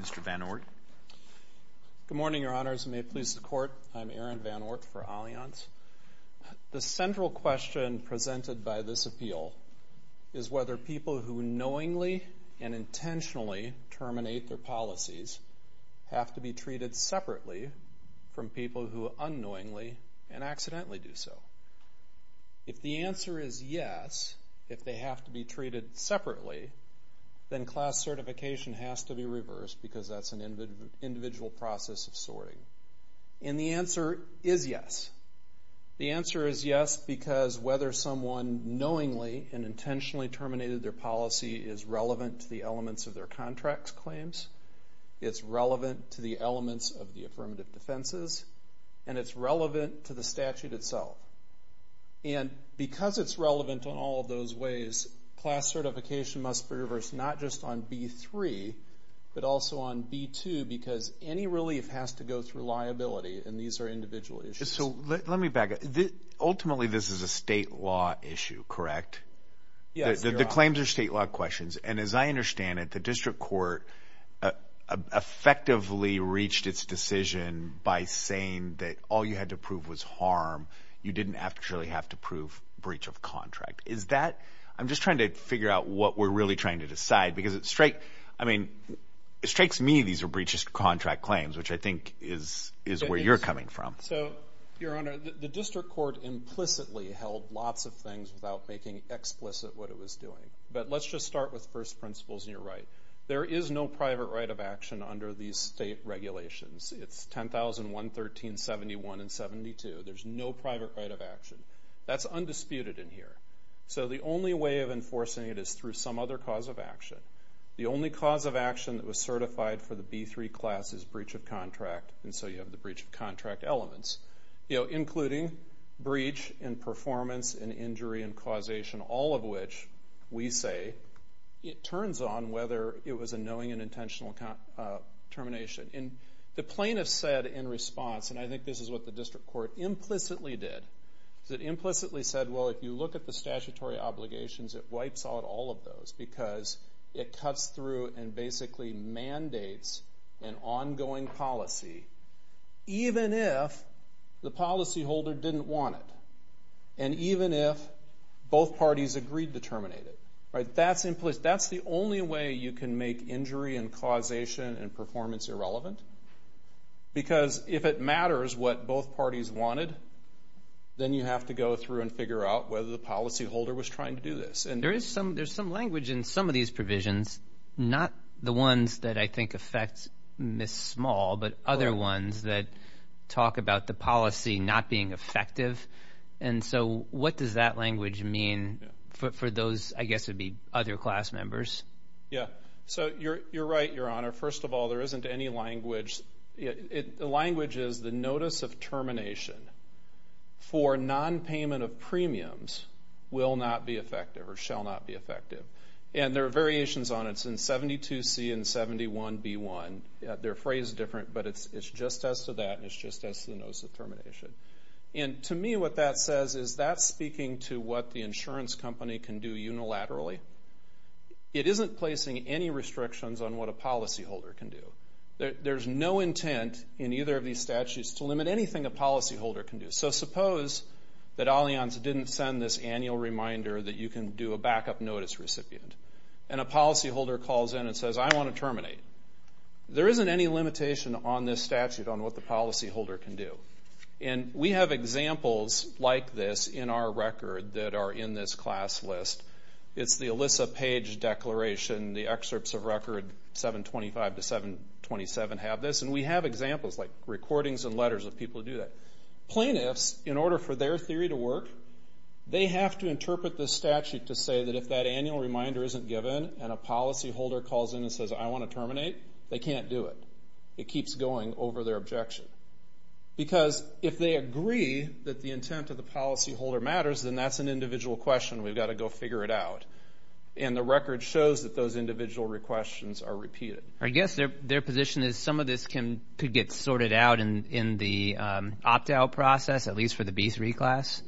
Mr. Van Oort. Good morning, Your Honors, and may it please the Court, I'm Aaron Van Oort for Allianz. The central question presented by this appeal is whether people who knowingly and intentionally terminate their policies have to be treated separately from people who unknowingly and accidentally do so. If the answer is yes, if they have to be treated separately, then class certification has to be reversed because that's an individual process of sorting. And the answer is yes. The answer is yes because whether someone knowingly and intentionally terminated their policy is relevant to the elements of their contract's claims, it's relevant to the elements of the affirmative defenses, and it's relevant to the statute itself. And because it's relevant in all of those ways, class certification must be reversed not just on B3 but also on B2 because any relief has to go through liability and these are individual issues. So let me back up. Ultimately, this is a state law issue, correct? Yes. The claims are state law questions, and as I understand it, the district court effectively reached its decision by saying that all you had to prove was harm. You didn't actually have to prove breach of contract. Is that... I'm just trying to figure out what we're really trying to decide because it's straight... I mean, it strikes me these are breaches to contract claims, which I think is where you're coming from. So, Your Honor, the district court implicitly held lots of things without making explicit what it was doing. But let's just start with first principles, and you're right. There is no private right of action under these state regulations. It's 10,000, 113, 71, and 72. There's no private right of action. That's undisputed in here. So the only way of enforcing it is through some other cause of action. The only cause of action that was certified for the B3 class is breach of contract, and so you have the breach of contract elements, including breach in performance and injury and causation, all of which we say it turns on whether it was a knowing and intentional termination. And the plaintiff said in response, and I think this is what the district court implicitly did, is it implicitly said, well, if you look at the statutory obligations, it wipes out all of those because it cuts through and basically mandates an ongoing policy, even if the policy both parties agreed to terminate it, right? That's implicit. That's the only way you can make injury and causation and performance irrelevant because if it matters what both parties wanted, then you have to go through and figure out whether the policyholder was trying to do this. And there is some language in some of these provisions, not the ones that I think affect Ms. Small, but other ones that talk about the policy not being effective. And so what does that language mean for those, I guess it'd be other class members? Yeah. So you're right, Your Honor. First of all, there isn't any language. The language is the notice of termination for nonpayment of premiums will not be effective or shall not be effective. And there are variations on it. It's in 72C and 71B1. They're phrased different, but it's just as to that and it's just as to the notice of termination. And to me, what that says is that's speaking to what the insurance company can do unilaterally. It isn't placing any restrictions on what a policyholder can do. There's no intent in either of these statutes to limit anything a policyholder can do. So suppose that Allianz didn't send this annual reminder that you can do a backup notice recipient. And a policyholder calls in and says, I want to terminate. There isn't any limitation on this statute on what the policyholder can do. And we have examples like this in our record that are in this class list. It's the ELISA page declaration. The excerpts of record 725 to 727 have this. And we have examples like recordings and letters of people who do that. Plaintiffs, in order for their theory to work, they have to interpret this statute to say that if that annual reminder isn't given and a policyholder calls in and says, I want to terminate, they can't do it. It keeps going over their objection. Because if they agree that the intent of the policyholder matters, then that's an individual question. We've got to go figure it out. And the record shows that those individual questions are repeated. I guess their position is some of this could get sorted out in the opt-out process, at least for the B3 class?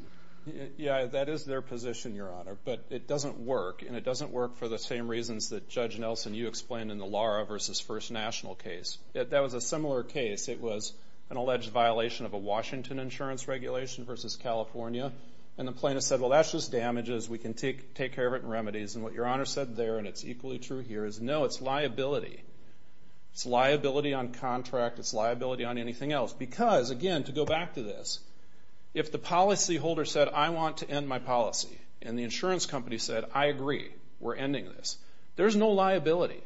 Yeah, that is their position, Your Honor. But it doesn't work. And it doesn't work for the same reasons that Judge Nelson, you explained in the Lara v. First National case. That was a similar case. It was an alleged violation of a Washington insurance regulation v. California. And the plaintiff said, well, that's just damages. We can take care of it in remedies. And what Your Honor said there, and it's equally true here, is no, it's liability. It's liability on contract. It's liability on anything else. Because, again, to go back to this, if the policyholder said, I want to end my policy, and the insurance company said, I agree, we're ending this, there's no liability.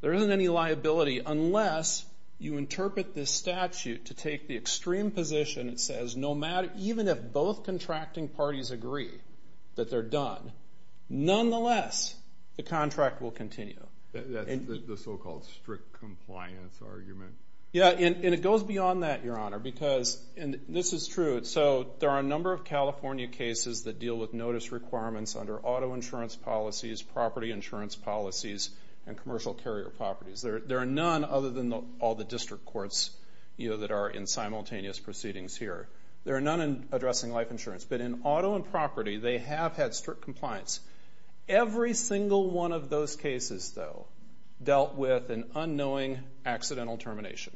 There isn't any liability unless you interpret this statute to take the extreme position that says, even if both contracting parties agree that they're done, nonetheless, the contract will continue. That's the so-called strict compliance argument. Yeah, and it goes beyond that, Your Honor, because, and this is true, so there are a number of California cases that deal with notice requirements under auto insurance policies, property insurance policies, and commercial carrier properties. There are none other than all the district courts that are in simultaneous proceedings here. There are none addressing life insurance. But in auto and property, they have had strict compliance. Every single one of those cases, though, dealt with an unknowing accidental termination.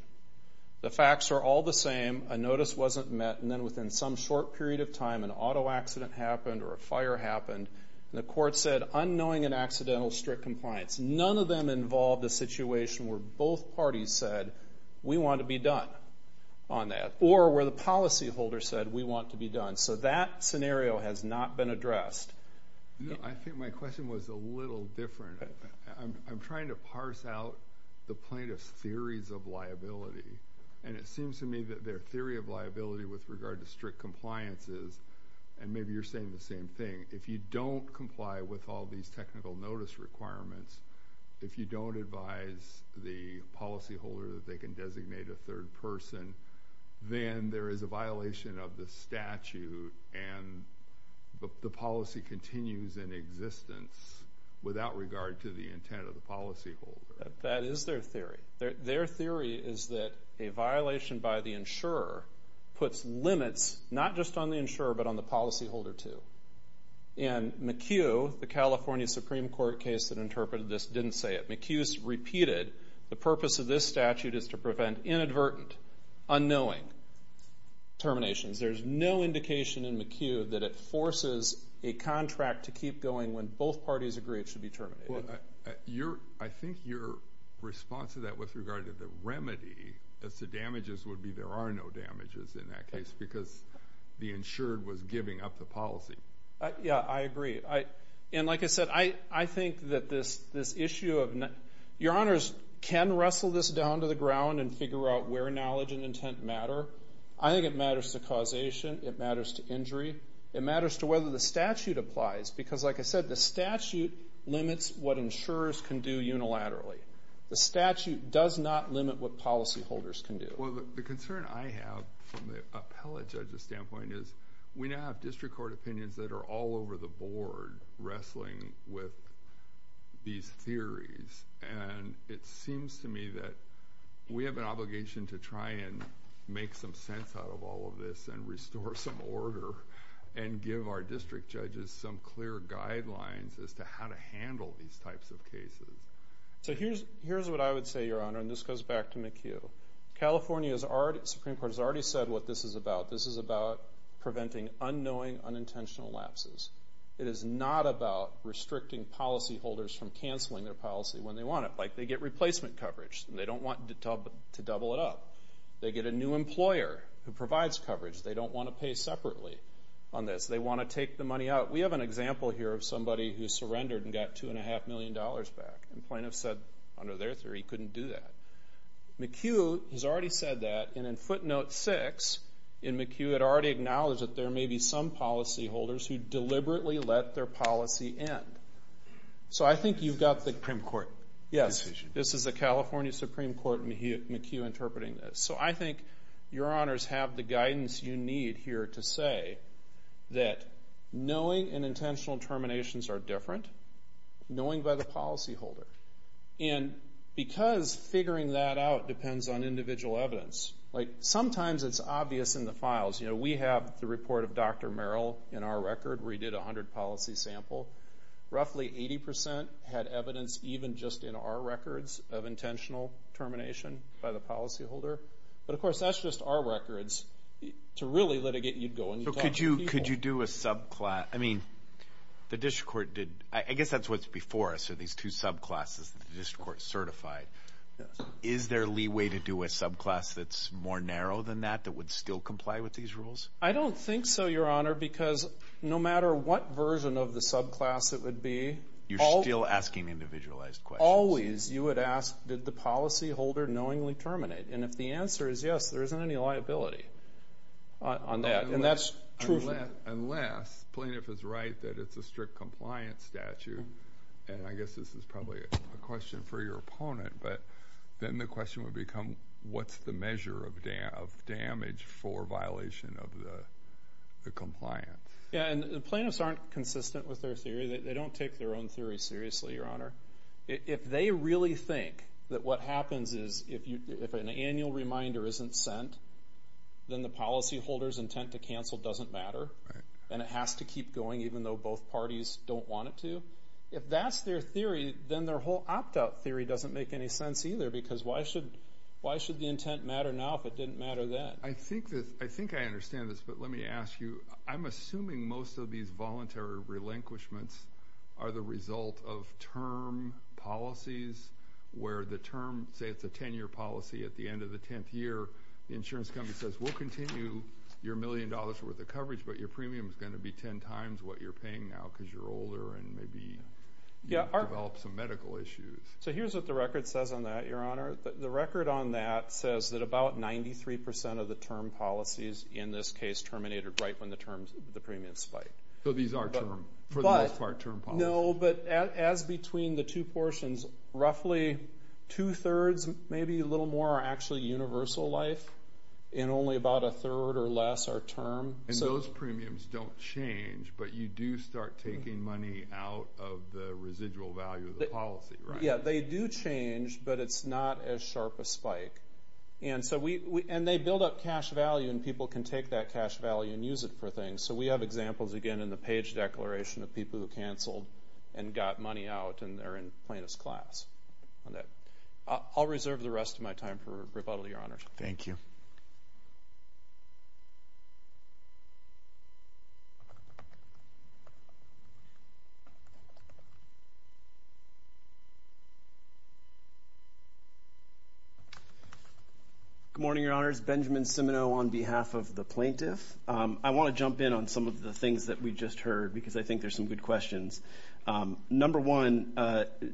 The facts are all the same. A notice wasn't met, and then within some short period of time, an auto accident happened or a fire happened, and the court said, unknowing and accidental strict compliance. None of them involved a situation where both parties said, we want to be done on that, or where the policyholder said, we want to be done. So that scenario has not been addressed. I think my question was a little different. I'm trying to parse out the plaintiff's theories of liability, and it seems to me that their theory of liability with regard to strict compliance is, and maybe you're saying the same thing, if you don't comply with all these technical notice requirements, if you don't advise the policyholder that they can designate a third person, then there is a violation of the statute, and the policy continues in existence without regard to the intent of the policyholder. That is their theory. Their theory is that a violation by the insurer puts limits not just on the insurer, but on the policyholder, too. And McHugh, the California Supreme Court case that interpreted this, didn't say it. McHugh's repeated the purpose of this statute is to prevent inadvertent, unknowing terminations. There's no indication in McHugh that it forces a contract to keep going when both parties agree it should be terminated. Well, I think your response to that with regard to the remedy as to damages would be there are no damages in that case, because the insured was giving up the policy. Yeah, I agree. And like I said, I think that this issue of, your honors can wrestle this down to the ground and figure out where knowledge and intent matter. I think it matters to causation. It matters to injury. It matters to whether the statute applies, because like I said, the statute limits what insurers can do unilaterally. The statute does not limit what policyholders can do. Well, the concern I have from the appellate judge's standpoint is we now have district court opinions that are all over the board wrestling with these theories. And it seems to me that we have an obligation to try and make some sense out of all of this and restore some order and give our district judges some clear guidelines as to how to handle these types of cases. So here's what I would say, your honor, and this goes back to McHugh. California's Supreme Court has already said what this is about. This is about preventing unknowing, unintentional lapses. It is not about restricting policyholders from canceling their policy when they want it. Like, they get replacement coverage, and they don't want to double it up. They get a new employer who provides coverage. They don't want to pay separately on this. They want to take the money out. We have an example here of somebody who surrendered and got $2.5 million back. And plaintiffs said, under their theory, he couldn't do that. McHugh has already said that. And in footnote 6, McHugh had already acknowledged that there may be some policyholders who deliberately let their policy end. So I think you've got the Supreme Court. Yes, this is the California Supreme Court McHugh interpreting this. So I think your honors have the guidance you need here to say that knowing unintentional terminations are different, knowing by the policyholder. And because figuring that out depends on individual evidence, like sometimes it's obvious in the files. You know, we have the report of Dr. Merrill in our record where he did a hundred policy sample. Roughly 80% had evidence even just in our records of intentional termination by the policyholder. But of course, that's just our records. To really litigate, you'd go and you'd talk to people. Could you do a subclass? I mean, the district court did. I guess that's what's before us, are these two subclasses that the district court certified. Is there leeway to do a subclass that's more narrow than that, that would still comply with these rules? I don't think so, your honor, because no matter what version of the subclass it would be. You're still asking individualized questions. Always you would ask, did the policyholder knowingly terminate? And if the answer is yes, there isn't any liability on that. Unless the plaintiff is right that it's a strict compliance statute, and I guess this is probably a question for your opponent, but then the question would become, what's the measure of damage for violation of the compliance? Yeah, and the plaintiffs aren't consistent with their theory. They don't take their own theory seriously, your honor. If they really think that what happens is if an annual reminder isn't sent, then the policyholder's intent to cancel doesn't matter, and it has to keep going even though both parties don't want it to. If that's their theory, then their whole opt-out theory doesn't make any sense either, because why should the intent matter now if it didn't matter then? I think I understand this, but let me ask you, I'm assuming most of these voluntary relinquishments are the result of term policies, where the term, say it's a 10-year policy, at the end of the 10th year, the insurance company says, we'll continue your million dollars worth of coverage, but your premium is going to be 10 times what you're paying now, because you're older and maybe you've developed some medical issues. So here's what the record says on that, your honor. The record on that says that about 93% of the term policies in this case terminated right when the premium spiked. So these are term, for the most part, term policies? No, but as between the two portions, roughly two-thirds, maybe a little more, are actually universal life, and only about a third or less are term. And those premiums don't change, but you do start taking money out of the residual value of the policy, right? Yeah, they do change, but it's not as sharp a spike. And they build up cash value, and people can take that cash value and use it for things. So we have examples, again, in the page declaration of people who canceled and got money out, and they're in plaintiff's class on that. I'll reserve the rest of my time for rebuttal, your honor. Thank you. Good morning, your honors. Benjamin Cimino on behalf of the plaintiff. I want to jump in on some of the things that we just heard, because I think there's some good questions. Number one,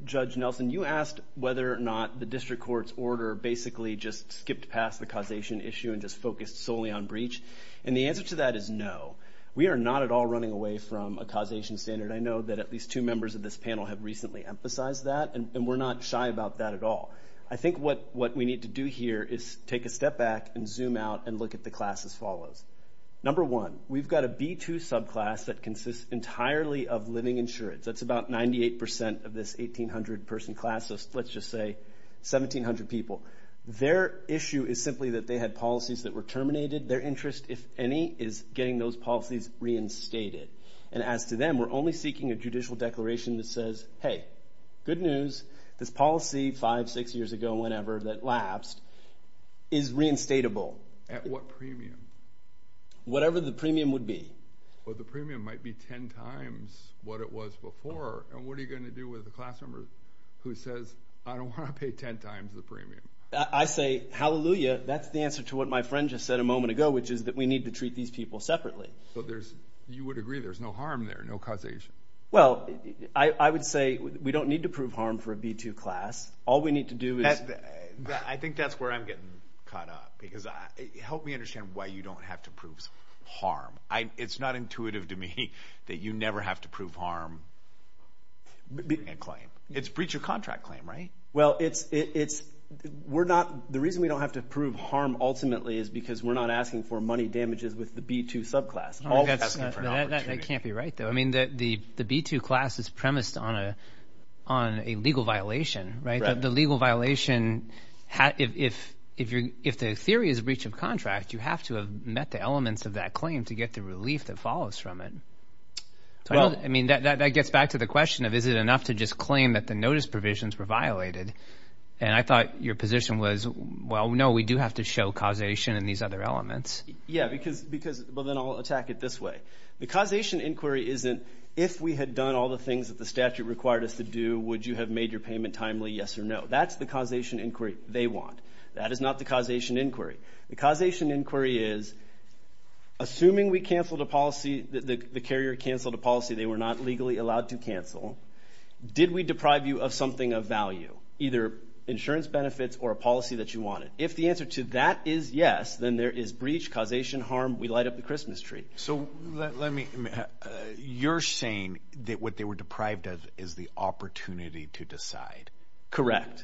Judge Nelson, you asked whether or not the district court's order basically just skipped past the causation issue and just focused solely on breach. And the answer to that is no. We are not at all running away from a causation standard. I know that at least two members of this panel have recently emphasized that, and we're not shy about that at all. I think what we need to do here is take a step back and zoom out and look at the class as follows. Number one, we've got a B2 subclass that consists entirely of living insurance. That's about 98% of this 1,800-person class, so let's just say 1,700 people. Their issue is simply that they had policies that were terminated. Their interest, if any, is getting those policies reinstated. And as to them, we're only seeking a judicial declaration that says, hey, good news, this policy five, six years ago, whenever, that lapsed, is reinstatable. At what premium? Whatever the premium would be. Well, the premium might be 10 times what it was before. And what are you going to do with the class member who says, I don't want to pay 10 times the premium? I say, hallelujah, that's the answer to what my friend just said a moment ago, which is that we need to treat these people separately. You would agree there's no harm there, no causation? Well, I would say we don't need to prove harm for a B2 class. All we need to do is... I think that's where I'm getting caught up, because help me understand why you don't have to prove harm. It's not intuitive to me that you never have to prove harm in a claim. It's breach of contract claim, right? Well, the reason we don't have to prove harm ultimately is because we're not asking for money damages with the B2 subclass. That can't be right, though. I mean, the B2 class is premised on a legal violation, right? The legal violation, if the theory is breach of contract, you have to have met the elements of that claim to get the relief that follows from it. I mean, that gets back to the question of, is it enough to just claim that the notice provisions were violated? And I thought your position was, well, no, we do have to show causation and these other elements. Yeah, because... Well, then I'll attack it this way. The causation inquiry isn't, if we had done all the things that the statute required us to do, would you have made your payment timely, yes or no? That's the causation inquiry they want. That is not the causation inquiry. The causation inquiry is, assuming we canceled a policy, the carrier canceled a policy they were not legally allowed to cancel, did we deprive you of something of value, either insurance benefits or a policy that you wanted? If the answer to that is yes, then there is breach, causation, harm. We light up the Christmas tree. So let me... You're saying that what they were deprived of is the opportunity to decide. Correct.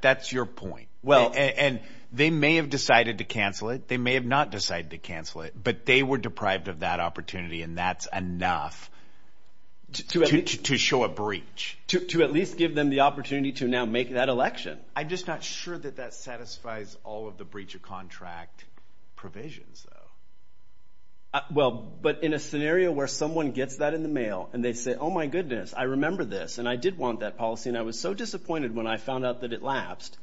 That's your point. And they may have decided to cancel it. They may have not decided to cancel it, but they were deprived of that opportunity. And that's enough to show a breach. To at least give them the opportunity to now make that election. I'm just not sure that that satisfies all of the breach of contract provisions though. Well, but in a scenario where someone gets that in the mail and they say, oh my goodness, I remember this and I did want that policy and I was so disappointed when I found out that it lapsed.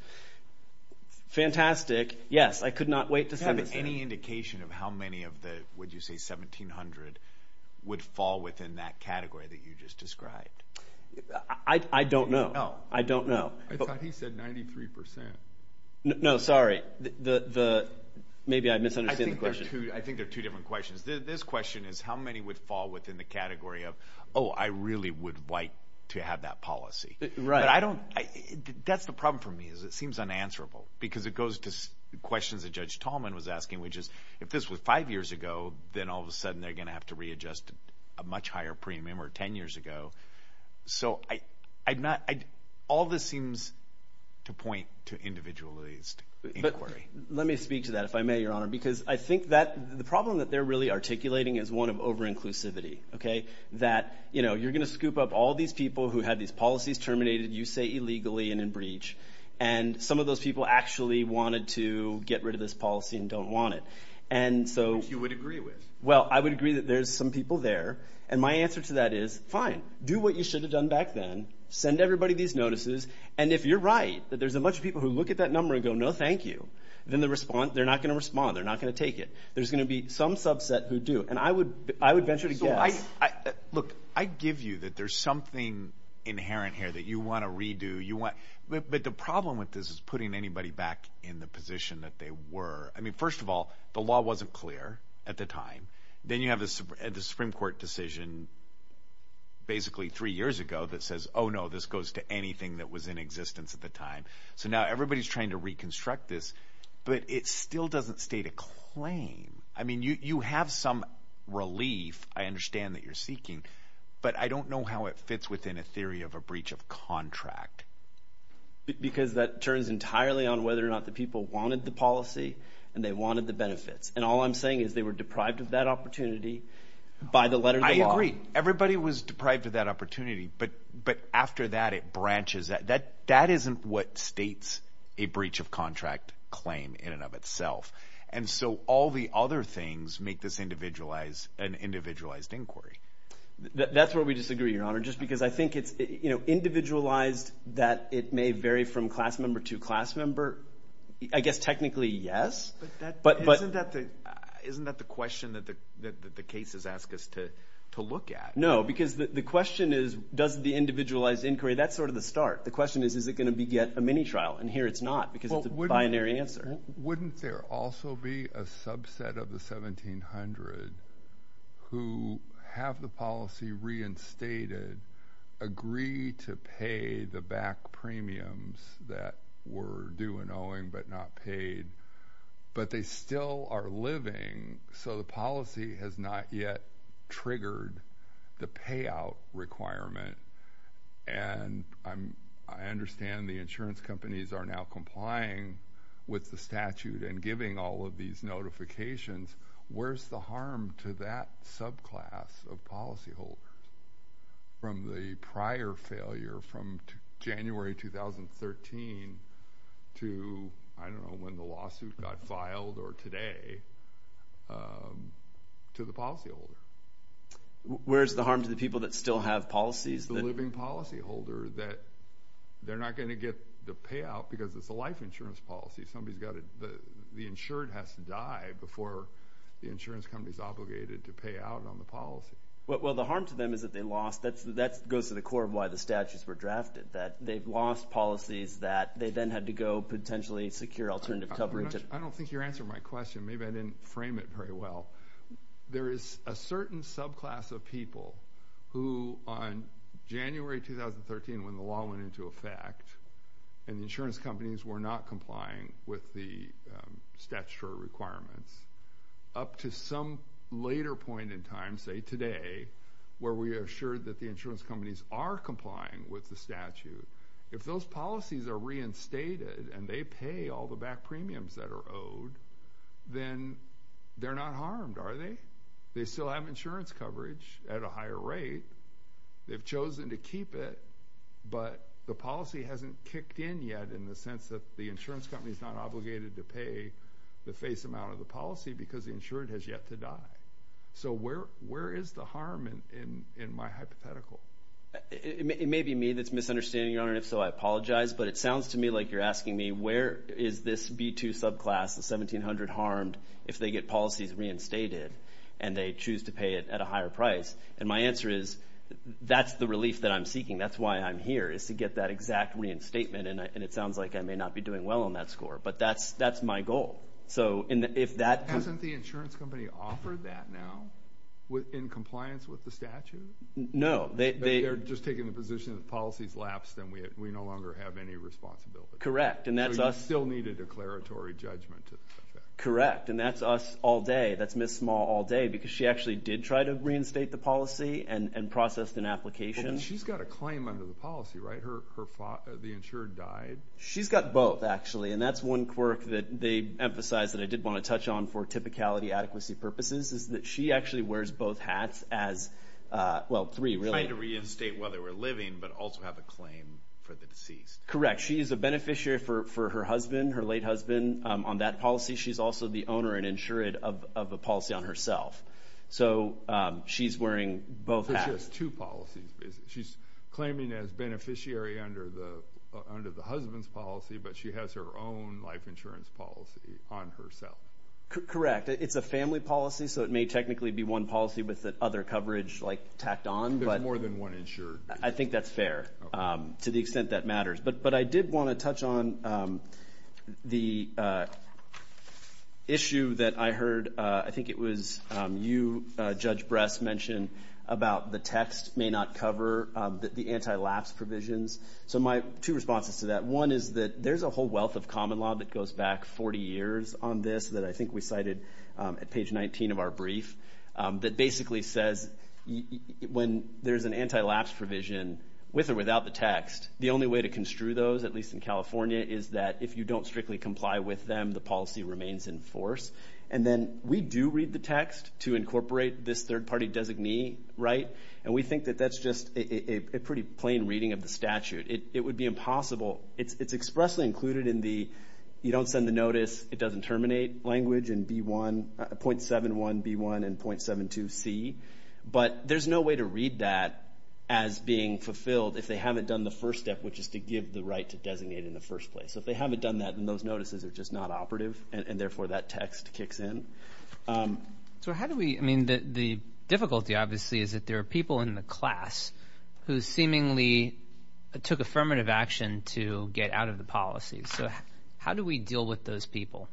Fantastic. Yes, I could not wait to send this in. Do you have any indication of how many of the, would you say 1,700, would fall within that category that you just described? I don't know. No. I don't know. I thought he said 93%. No, sorry. Maybe I misunderstood the question. I think they're two different questions. This question is how many would fall within the category of, oh, I really would like to have that policy. Right. But I don't, that's the problem for me is it seems unanswerable because it goes to questions that Judge Tallman was asking, which is if this was five years ago, then all of a sudden they're going to have to readjust a much higher premium or 10 years ago. So all this seems to point to individualized inquiry. Let me speak to that if I may, Your Honor, because I think that the problem that they're really articulating is one of over-inclusivity, okay? That you're going to scoop up all these people who had these policies terminated, you say illegally and in breach, and some of those people actually wanted to get rid of this policy and don't want it. And so- Which you would agree with. Well, I would agree that there's some people there and my answer to that is fine. Do what you should have done back then. Send everybody these notices. And if you're right, that there's a bunch of people who look at that number and go, no, thank you, then they're not going to respond. They're not going to take it. There's going to be some subset who do. And I would venture to guess- Look, I give you that there's something inherent here that you want to redo. But the problem with this is putting anybody back in the position that they were. I mean, first of all, the law wasn't clear at the time. Then you have the Supreme Court decision basically three years ago that says, oh no, this goes to anything that was in existence at the time. So now everybody's trying to reconstruct this, but it still doesn't state a claim. I mean, you have some relief, I understand that you're seeking, but I don't know how it fits within a theory of a breach of contract. Because that turns entirely on whether or not the people wanted the policy and they wanted the benefits. And all I'm saying is they were deprived of that opportunity by the letter of the law. Everybody was deprived of that opportunity. But after that, it branches. That isn't what states a breach of contract claim in and of itself. And so all the other things make this an individualized inquiry. That's where we disagree, Your Honor. Just because I think it's individualized that it may vary from class member to class member. I guess technically, yes. But isn't that the question that the cases ask us to look at? No, because the question is, does the individualized inquiry, that's sort of the start. The question is, is it going to be yet a mini trial? And here it's not because it's a binary answer. Wouldn't there also be a subset of the 1700 who have the policy reinstated, agree to pay the back premiums that were due and owing but not paid but they still are living. So the policy has not yet triggered the payout requirement. And I understand the insurance companies are now complying with the statute and giving all of these notifications. Where's the harm to that subclass of policyholders from the prior failure from January 2013 to, I don't know, when the lawsuit got filed or today, to the policyholder? Where's the harm to the people that still have policies? The living policyholder that they're not going to get the payout because it's a life insurance policy. Somebody's got to, the insured has to die before the insurance company's obligated to pay out on the policy. Well, the harm to them is that they lost, that goes to the core of why the statutes were drafted, that they've lost policies that they then had to go potentially secure alternative coverage. I don't think you're answering my question. Maybe I didn't frame it very well. There is a certain subclass of people who on January 2013, when the law went into effect and the insurance companies were not complying with the statutory requirements, up to some later point in time, say today, where we are assured that the insurance companies are complying with the statute. If those policies are reinstated and they pay all the back premiums that are owed, then they're not harmed, are they? They still have insurance coverage at a higher rate. They've chosen to keep it, but the policy hasn't kicked in yet in the sense that the insurance company is not obligated to pay the face amount of the policy because the insured has yet to die. So where is the harm in my hypothetical? It may be me that's misunderstanding, Your Honor, and if so, I apologize. But it sounds to me like you're asking me, where is this B2 subclass, the 1,700 harmed, if they get policies reinstated and they choose to pay it at a higher price? And my answer is, that's the relief that I'm seeking. That's why I'm here, is to get that exact reinstatement. And it sounds like I may not be doing well on that score, but that's my goal. So if that- Hasn't the insurance company offered that now in compliance with the statute? No, they- They're just taking the position that if policies lapse, then we no longer have any responsibility. Correct, and that's us- So you still need a declaratory judgment to the effect. Correct, and that's us all day. That's Ms. Small all day because she actually did try to reinstate the policy and process an application. She's got a claim under the policy, right? The insured died. She's got both, actually. And that's one quirk that they emphasized that I did want to touch on for typicality adequacy purposes is that she actually wears both hats as, well, three, really. Trying to reinstate whether we're living, but also have a claim for the deceased. Correct. She is a beneficiary for her husband, her late husband on that policy. She's also the owner and insured of a policy on herself. So she's wearing both hats. So she has two policies, basically. She's claiming as beneficiary under the husband's policy, but she has her own life insurance policy on herself. Correct. It's a family policy, so it may technically be one policy with the other coverage tacked on. There's more than one insured. I think that's fair to the extent that matters. But I did want to touch on the issue that I heard. I think it was you, Judge Bress, mentioned about the text may not cover the anti-lapse provisions. So my two responses to that. One is that there's a whole wealth of common law that goes back 40 years on this that I think we cited at page 19 of our brief that basically says when there's an anti-lapse provision with or without the text, the only way to construe those, at least in California, is that if you don't strictly comply with them, the policy remains in force. And then we do read the text to incorporate this third-party designee, right? And we think that that's just a pretty plain reading of the statute. It would be impossible. It's expressly included in the you don't send the notice, it doesn't terminate language in 0.71B1 and 0.72C. But there's no way to read that as being fulfilled if they haven't done the first step, which is to give the right to designate in the first place. So if they haven't done that, then those notices are just not operative. And therefore, that text kicks in. So how do we, I mean, the difficulty, obviously, is that there are people in the class who seemingly took affirmative action to get out of the policy. So how do we deal with those people?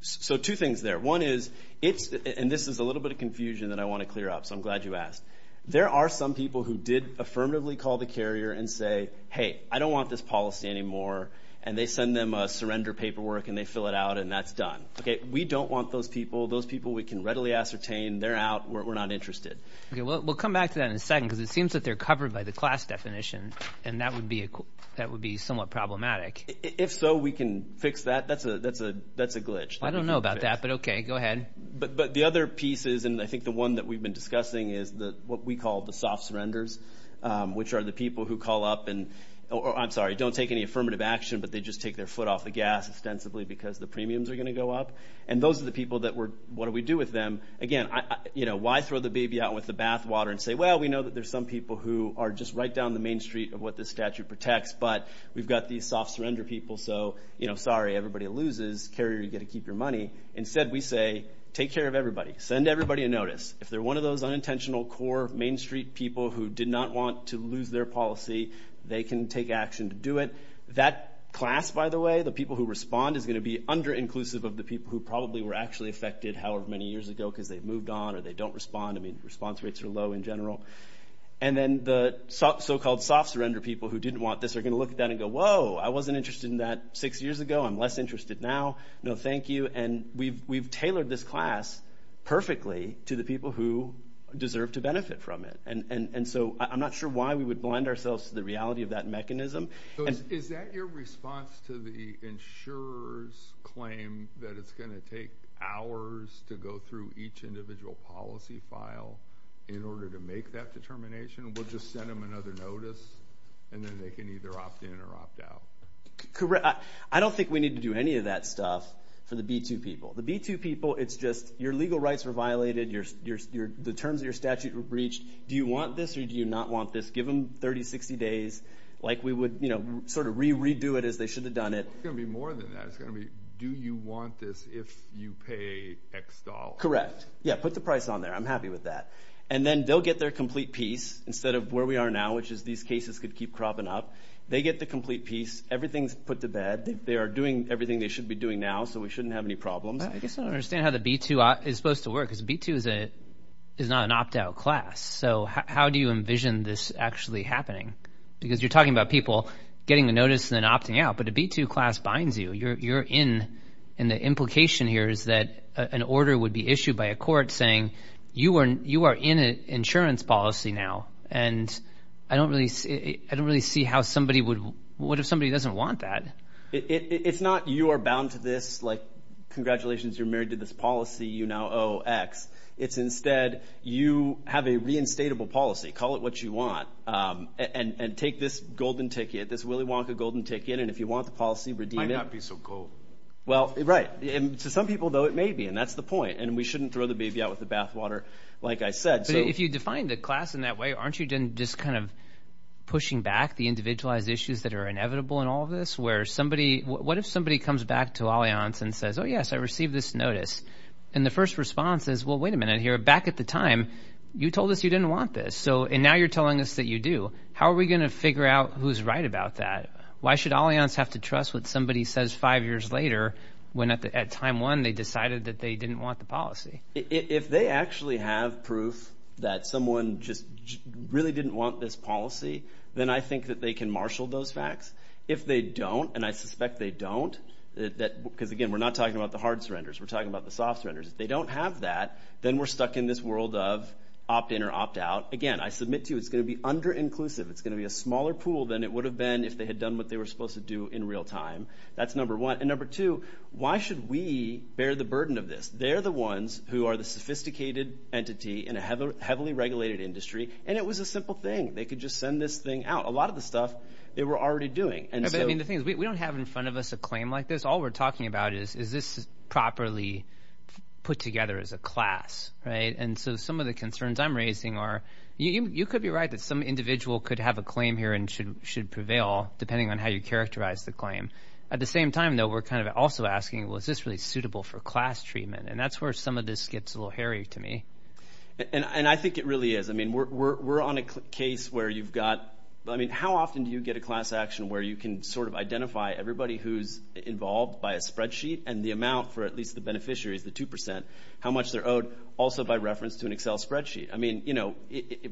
So two things there. One is, and this is a little bit of confusion that I want to clear up, so I'm glad you asked. There are some people who did affirmatively call the carrier and say, hey, I don't want this policy anymore. And they send them a surrender paperwork and they fill it out and that's done. Okay, we don't want those people. Those people we can readily ascertain, they're out, we're not interested. Okay, we'll come back to that in a second because it seems that they're covered by the class definition. And that would be somewhat problematic. If so, we can fix that. That's a glitch. I don't know about that, but okay, go ahead. But the other pieces, and I think the one that we've been discussing is what we call the soft surrenders, which are the people who call up and, I'm sorry, don't take any affirmative action, but they just take their foot off the gas ostensibly because the premiums are going to go up. And those are the people that we're, what do we do with them? Again, why throw the baby out with the bath water and say, well, we know that there's some people who are just right down the main street of what this statute protects, but we've got these soft surrender people, so, you know, sorry, everybody loses. Carrier, you get to keep your money. Instead, we say, take care of everybody. Send everybody a notice. If they're one of those unintentional, core main street people who did not want to lose their policy, they can take action to do it. That class, by the way, the people who respond is going to be under inclusive of the people who probably were actually affected however many years ago because they've moved on or they don't respond. I mean, response rates are low in general. And then the so-called soft surrender people who didn't want this are going to look at that and go, whoa, I wasn't interested in that six years ago. I'm less interested now. No, thank you. And we've tailored this class perfectly to the people who deserve to benefit from it. And so I'm not sure why we would blind ourselves to the reality of that mechanism. So is that your response to the insurer's claim that it's going to take hours to go through each individual policy file in order to make that determination? We'll just send them another notice and then they can either opt in or opt out. I don't think we need to do any of that stuff for the B2 people. The B2 people, it's just your legal rights were violated. The terms of your statute were breached. Do you want this or do you not want this? Give them 30, 60 days. Like we would sort of re-redo it as they should have done it. It's going to be more than that. It's going to be, do you want this if you pay X dollars? Correct. Yeah, put the price on there. I'm happy with that. And then they'll get their complete piece instead of where we are now, which is these cases could keep cropping up. They get the complete piece. Everything's put to bed. They are doing everything they should be doing now, so we shouldn't have any problems. I guess I don't understand how the B2 is supposed to work because B2 is not an opt-out class. So how do you envision this actually happening? Because you're talking about people getting the notice and then opting out, but the B2 class binds you. You're in, and the implication here is that an order would be issued by a court saying, you are in an insurance policy now. And I don't really see how somebody would, what if somebody doesn't want that? It's not you are bound to this, like, congratulations, you're married to this policy, you now owe X. It's instead, you have a reinstatable policy, call it what you want, and take this golden ticket, this Willy Wonka golden ticket, and if you want the policy, redeem it. Might not be so cool. Well, right. And to some people, though, it may be, and that's the point. And we shouldn't throw the baby out with the bathwater, like I said. If you define the class in that way, aren't you just kind of pushing back the individualized issues that are inevitable in all of this? What if somebody comes back to Allianz and says, oh, yes, I received this notice? And the first response is, well, wait a minute here. Back at the time, you told us you didn't want this, and now you're telling us that you do. How are we going to figure out who's right about that? Why should Allianz have to trust what somebody says five years later when, at time one, they decided that they didn't want the policy? If they actually have proof that someone just really didn't want this policy, then I think that they can marshal those facts. If they don't, and I suspect they don't, because again, we're not talking about the hard surrenders. We're talking about the soft surrenders. If they don't have that, then we're stuck in this world of opt-in or opt-out. Again, I submit to you, it's going to be under-inclusive. It's going to be a smaller pool than it would have been if they had done what they were supposed to do in real time. That's number one. And number two, why should we bear the burden of this? They're the ones who are the sophisticated entity in a heavily regulated industry. And it was a simple thing. They could just send this thing out. A lot of the stuff they were already doing. I mean, the thing is, we don't have in front of us a claim like this. All we're talking about is, is this properly put together as a class, right? And so some of the concerns I'm raising are, you could be right that some individual could have a claim here and should prevail, depending on how you characterize the claim. At the same time, though, we're kind of also asking, well, is this really suitable for class treatment? And that's where some of this gets a little hairy to me. And I think it really is. I mean, we're on a case where you've got, I mean, how often do you get a class action where you can sort of identify everybody who's involved by a spreadsheet and the amount for at least the beneficiaries, the 2%, how much they're owed, also by reference to an Excel spreadsheet? I mean, you know,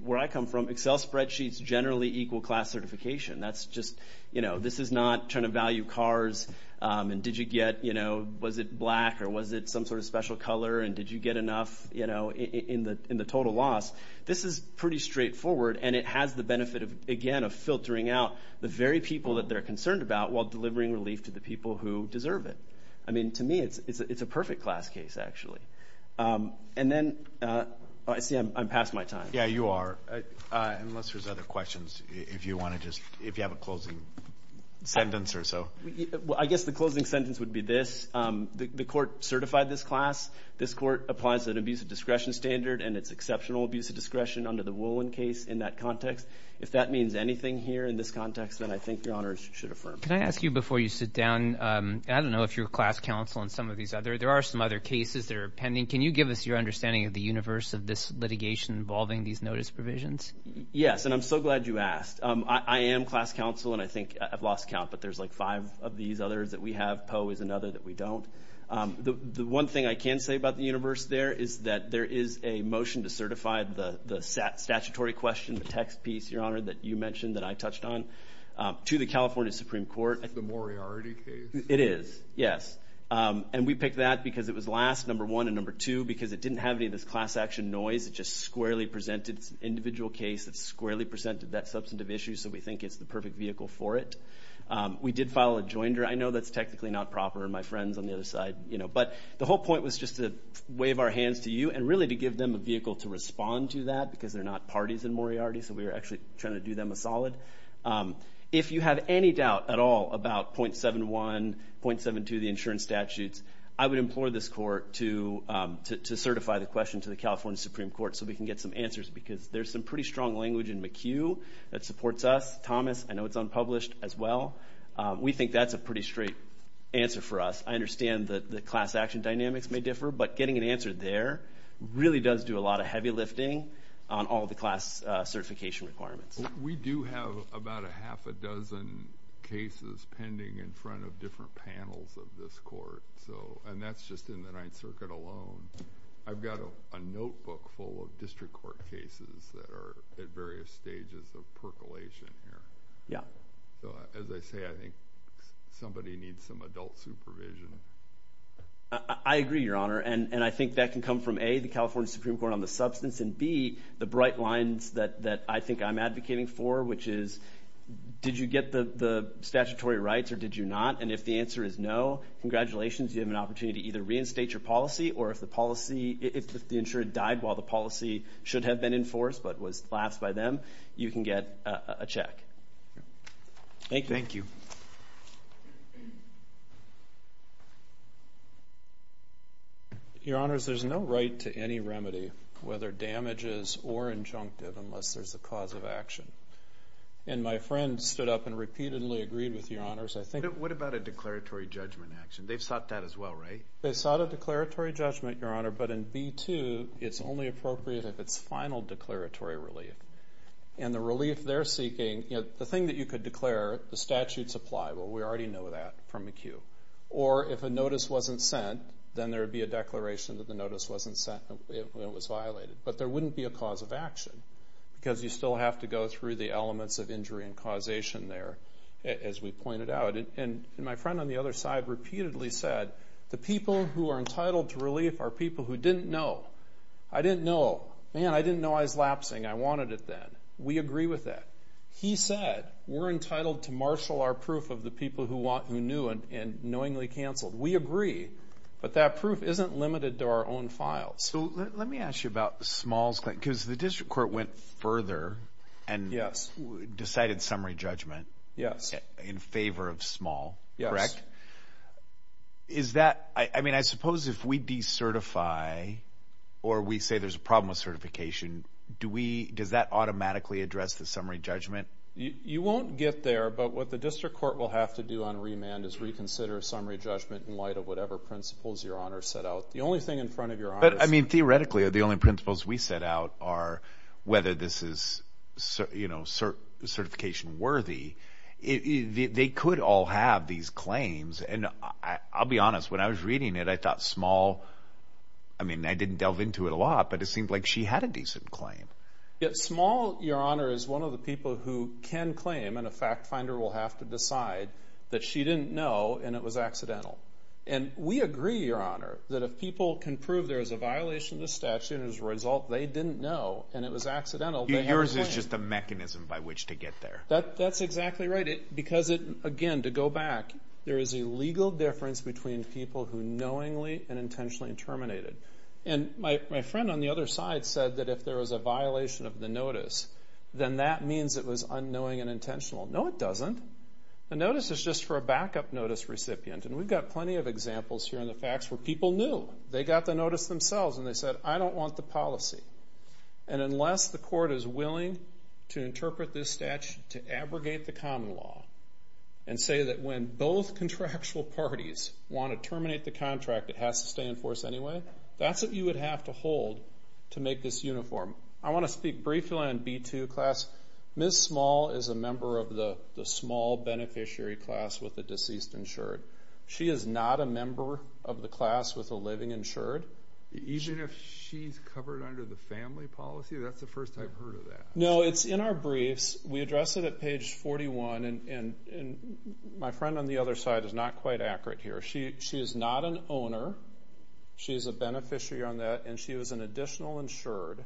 where I come from, Excel spreadsheets generally equal class certification. That's just, you know, this is not trying to value cars. And did you get, you know, was it black or was it some sort of special color? And did you get enough, you know, in the total loss? This is pretty straightforward. And it has the benefit of, again, of filtering out the very people that they're concerned about while delivering relief to the people who deserve it. I mean, to me, it's a perfect class case, actually. And then, I see I'm past my time. Yeah, you are. Unless there's other questions, if you want to just, if you have a closing sentence or so. Well, I guess the closing sentence would be this. The court certified this class. This court applies an abuse of discretion standard, and it's exceptional abuse of discretion under the Woolen case in that context. If that means anything here in this context, then I think your honors should affirm. Can I ask you before you sit down, I don't know if you're a class counsel on some of these other, there are some other cases that are pending. Can you give us your understanding of the universe of this litigation involving these notice provisions? Yes, and I'm so glad you asked. I am class counsel, and I think I've lost count, but there's like five of these others that we have. Poe is another that we don't. The one thing I can say about the universe there is that there is a motion to certify the statutory question, the text piece, your honor, that you mentioned that I touched on, to the California Supreme Court. The Moriarty case. It is, yes. And we picked that because it was last, number one, and number two, because it didn't have any of this class action noise. It just squarely presented, it's an individual case that squarely presented that substantive issue, so we think it's the perfect vehicle for it. We did file a joinder. I know that's technically not proper, my friends on the other side, you know, but the whole point was just to wave our hands to you and really to give them a vehicle to respond to that because they're not parties in Moriarty, so we were actually trying to do them a solid. If you have any doubt at all about .71, .72, the insurance statutes, I would implore this court to certify the question to the California Supreme Court so we can get some answers because there's some pretty strong language in McHugh that supports us. Thomas, I know it's unpublished as well. We think that's a pretty straight answer for us. I understand that the class action dynamics may differ, but getting an answer there really does do a lot of heavy lifting on all the class certification requirements. We do have about a half a dozen cases pending in front of different panels of this court, and that's just in the Ninth Circuit alone. I've got a notebook full of district court cases that are at various stages of percolation here, so as I say, I think somebody needs some adult supervision. I agree, Your Honor, and I think that can come from, A, the California Supreme Court on the substance, and B, the bright lines that I think I'm advocating for, which is did you get the statutory rights or did you not, and if the answer is no, congratulations, you have an opportunity to either reinstate your policy or if the insurance died while the policy should have been enforced but was passed by them, you can get a check. Thank you. Your Honors, there's no right to any remedy, whether damages or injunctive, unless there's a cause of action, and my friend stood up and repeatedly agreed with Your Honors, I think. What about a declaratory judgment action? They've sought that as well, right? They sought a declaratory judgment, Your Honor, but in B-2, it's only appropriate if it's final declaratory relief, and the relief they're seeking, the thing that you could declare, the statutes apply, well, we already know that from McHugh, or if a notice wasn't sent, then there would be a declaration that the notice wasn't sent and it was violated, but there wouldn't be a cause of action because you still have to go through the elements of injury and causation there, as we pointed out, and my friend on the other side repeatedly said, the people who are entitled to relief are people who didn't know. I didn't know. Man, I didn't know I was lapsing. I wanted it then. We agree with that. He said, we're entitled to marshal our proof of the people who knew and knowingly canceled. We agree, but that proof isn't limited to our own files. So let me ask you about Small's claim, because the district court went further and decided summary judgment in favor of Small, correct? Yes. Is that, I mean, I suppose if we decertify or we say there's a problem with certification, does that automatically address the summary judgment? You won't get there, but what the district court will have to do on remand is reconsider summary judgment in light of whatever principles your honor set out. The only thing in front of your honor- But I mean, theoretically, the only principles we set out are whether this is certification worthy. They could all have these claims, and I'll be honest, when I was reading it, I thought Small, I mean, I didn't delve into it a lot, but it seemed like she had a decent claim. Yeah, Small, your honor, is one of the people who can claim, and a fact finder will have to decide that she didn't know and it was accidental. And we agree, your honor, that if people can prove there is a violation of the statute and as a result, they didn't know and it was accidental- Yours is just a mechanism by which to get there. That's exactly right, because again, to go back, there is a legal difference between people who knowingly and intentionally terminated. And my friend on the other side said that if there was a violation of the notice, then that means it was unknowing and intentional. No, it doesn't. The notice is just for a backup notice recipient, and we've got plenty of examples here in the facts where people knew. They got the notice themselves, and they said, I don't want the policy. And unless the court is willing to interpret this statute to abrogate the common law and say that when both contractual parties want to terminate the contract, it has to stay in force anyway, that's what you would have to hold to make this uniform. I want to speak briefly on B2 class. Ms. Small is a member of the small beneficiary class with the deceased insured. She is not a member of the class with a living insured. Even if she's covered under the family policy? That's the first I've heard of that. No, it's in our briefs. We address it at page 41, and my friend on the other side is not quite accurate here. She is not an owner. She is a beneficiary on that, and she was an additional insured,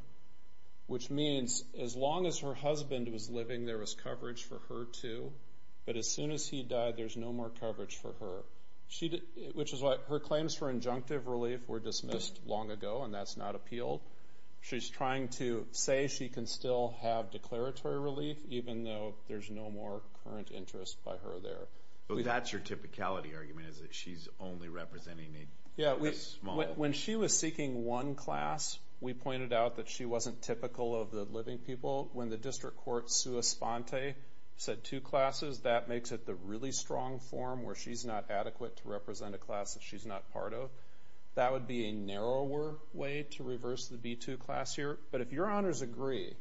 which means as long as her husband was living, there was coverage for her too. But as soon as he died, there's no more coverage for her. Which is why her claims for injunctive relief were dismissed long ago, and that's not appealed. She's trying to say she can still have declaratory relief, even though there's no more current interest by her there. So that's your typicality argument, is that she's only representing Yeah, when she was seeking one class, we pointed out that she wasn't typical of the living people. When the district court sue Esponte, said two classes, that makes it the really strong form where she's not adequate to represent a class that she's not part of. That would be a narrower way to reverse the B2 class here. But if your honors agree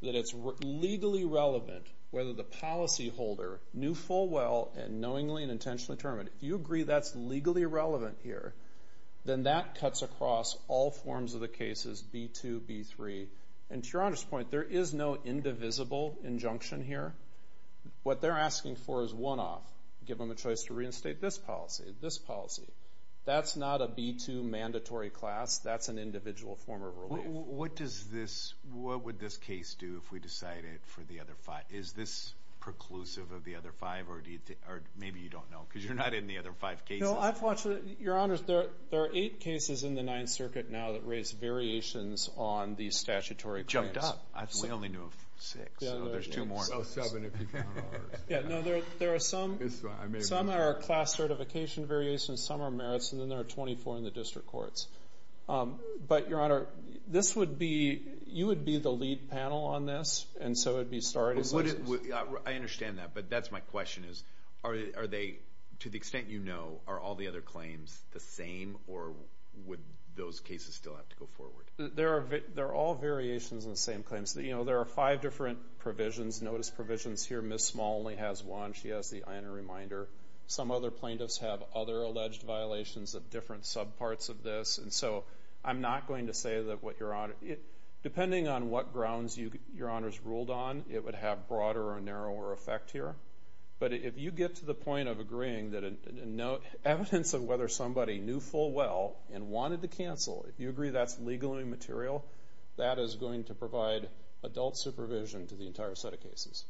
that it's legally relevant, whether the policyholder knew full well and knowingly and intentionally determined, if you agree that's legally relevant here, then that cuts across all forms of the cases, B2, B3. And to your honor's point, there is no indivisible injunction here. What they're asking for is one-off. Give them a choice to reinstate this policy, this policy. That's not a B2 mandatory class. That's an individual form of relief. What does this, what would this case do if we decided for the other five? Is this preclusive of the other five? Or maybe you don't know, because you're not in the other five cases. No, I've watched it. Your honors, there are eight cases in the Ninth Circuit now that raise variations on these statutory claims. Jumped up. I only knew of six. Oh, there's two more. Oh, seven if you count ours. Yeah, no, there are some, some are class certification variations, some are merits, and then there are 24 in the district courts. But your honor, this would be, you would be the lead panel on this. And so it'd be started. I understand that. But that's my question is, are they, to the extent you know, are all the other claims the same? Or would those cases still have to go forward? There are, they're all variations on the same claims that, you know, there are five different provisions, notice provisions here. Ms. Small only has one. She has the honor reminder. Some other plaintiffs have other alleged violations of different subparts of this. And so I'm not going to say that what your honor, depending on what grounds you, your honors ruled on, it would have broader or narrower effect here. But if you get to the point of agreeing that, evidence of whether somebody knew full well and wanted to cancel, if you agree that's legally material, that is going to provide adult supervision to the entire set of cases.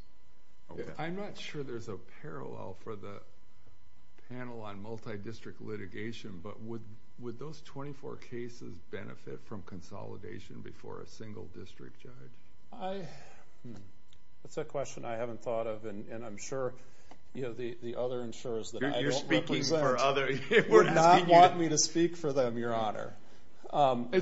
I'm not sure there's a parallel for the panel on multi-district litigation, but would those 24 cases benefit from consolidation before a single district judge? That's a question I haven't thought of. And I'm sure, you know, the other insurers that I don't represent would not want me to speak for them, your honor. No, I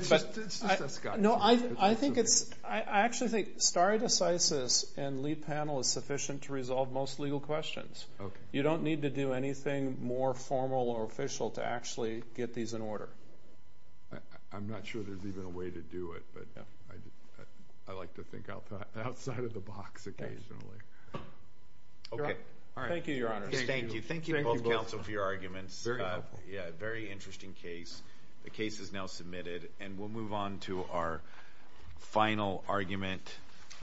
think it's, I actually think stare decisis and lead panel is sufficient to resolve most legal questions. You don't need to do anything more formal or official to actually get these in order. I'm not sure there's even a way to do it, but I like to think outside of the box occasionally. Okay. All right. Thank you, your honor. Thank you. Thank you both counsel for your arguments. Very helpful. Yeah, very interesting case. The case is now submitted and we'll move on to our final argument.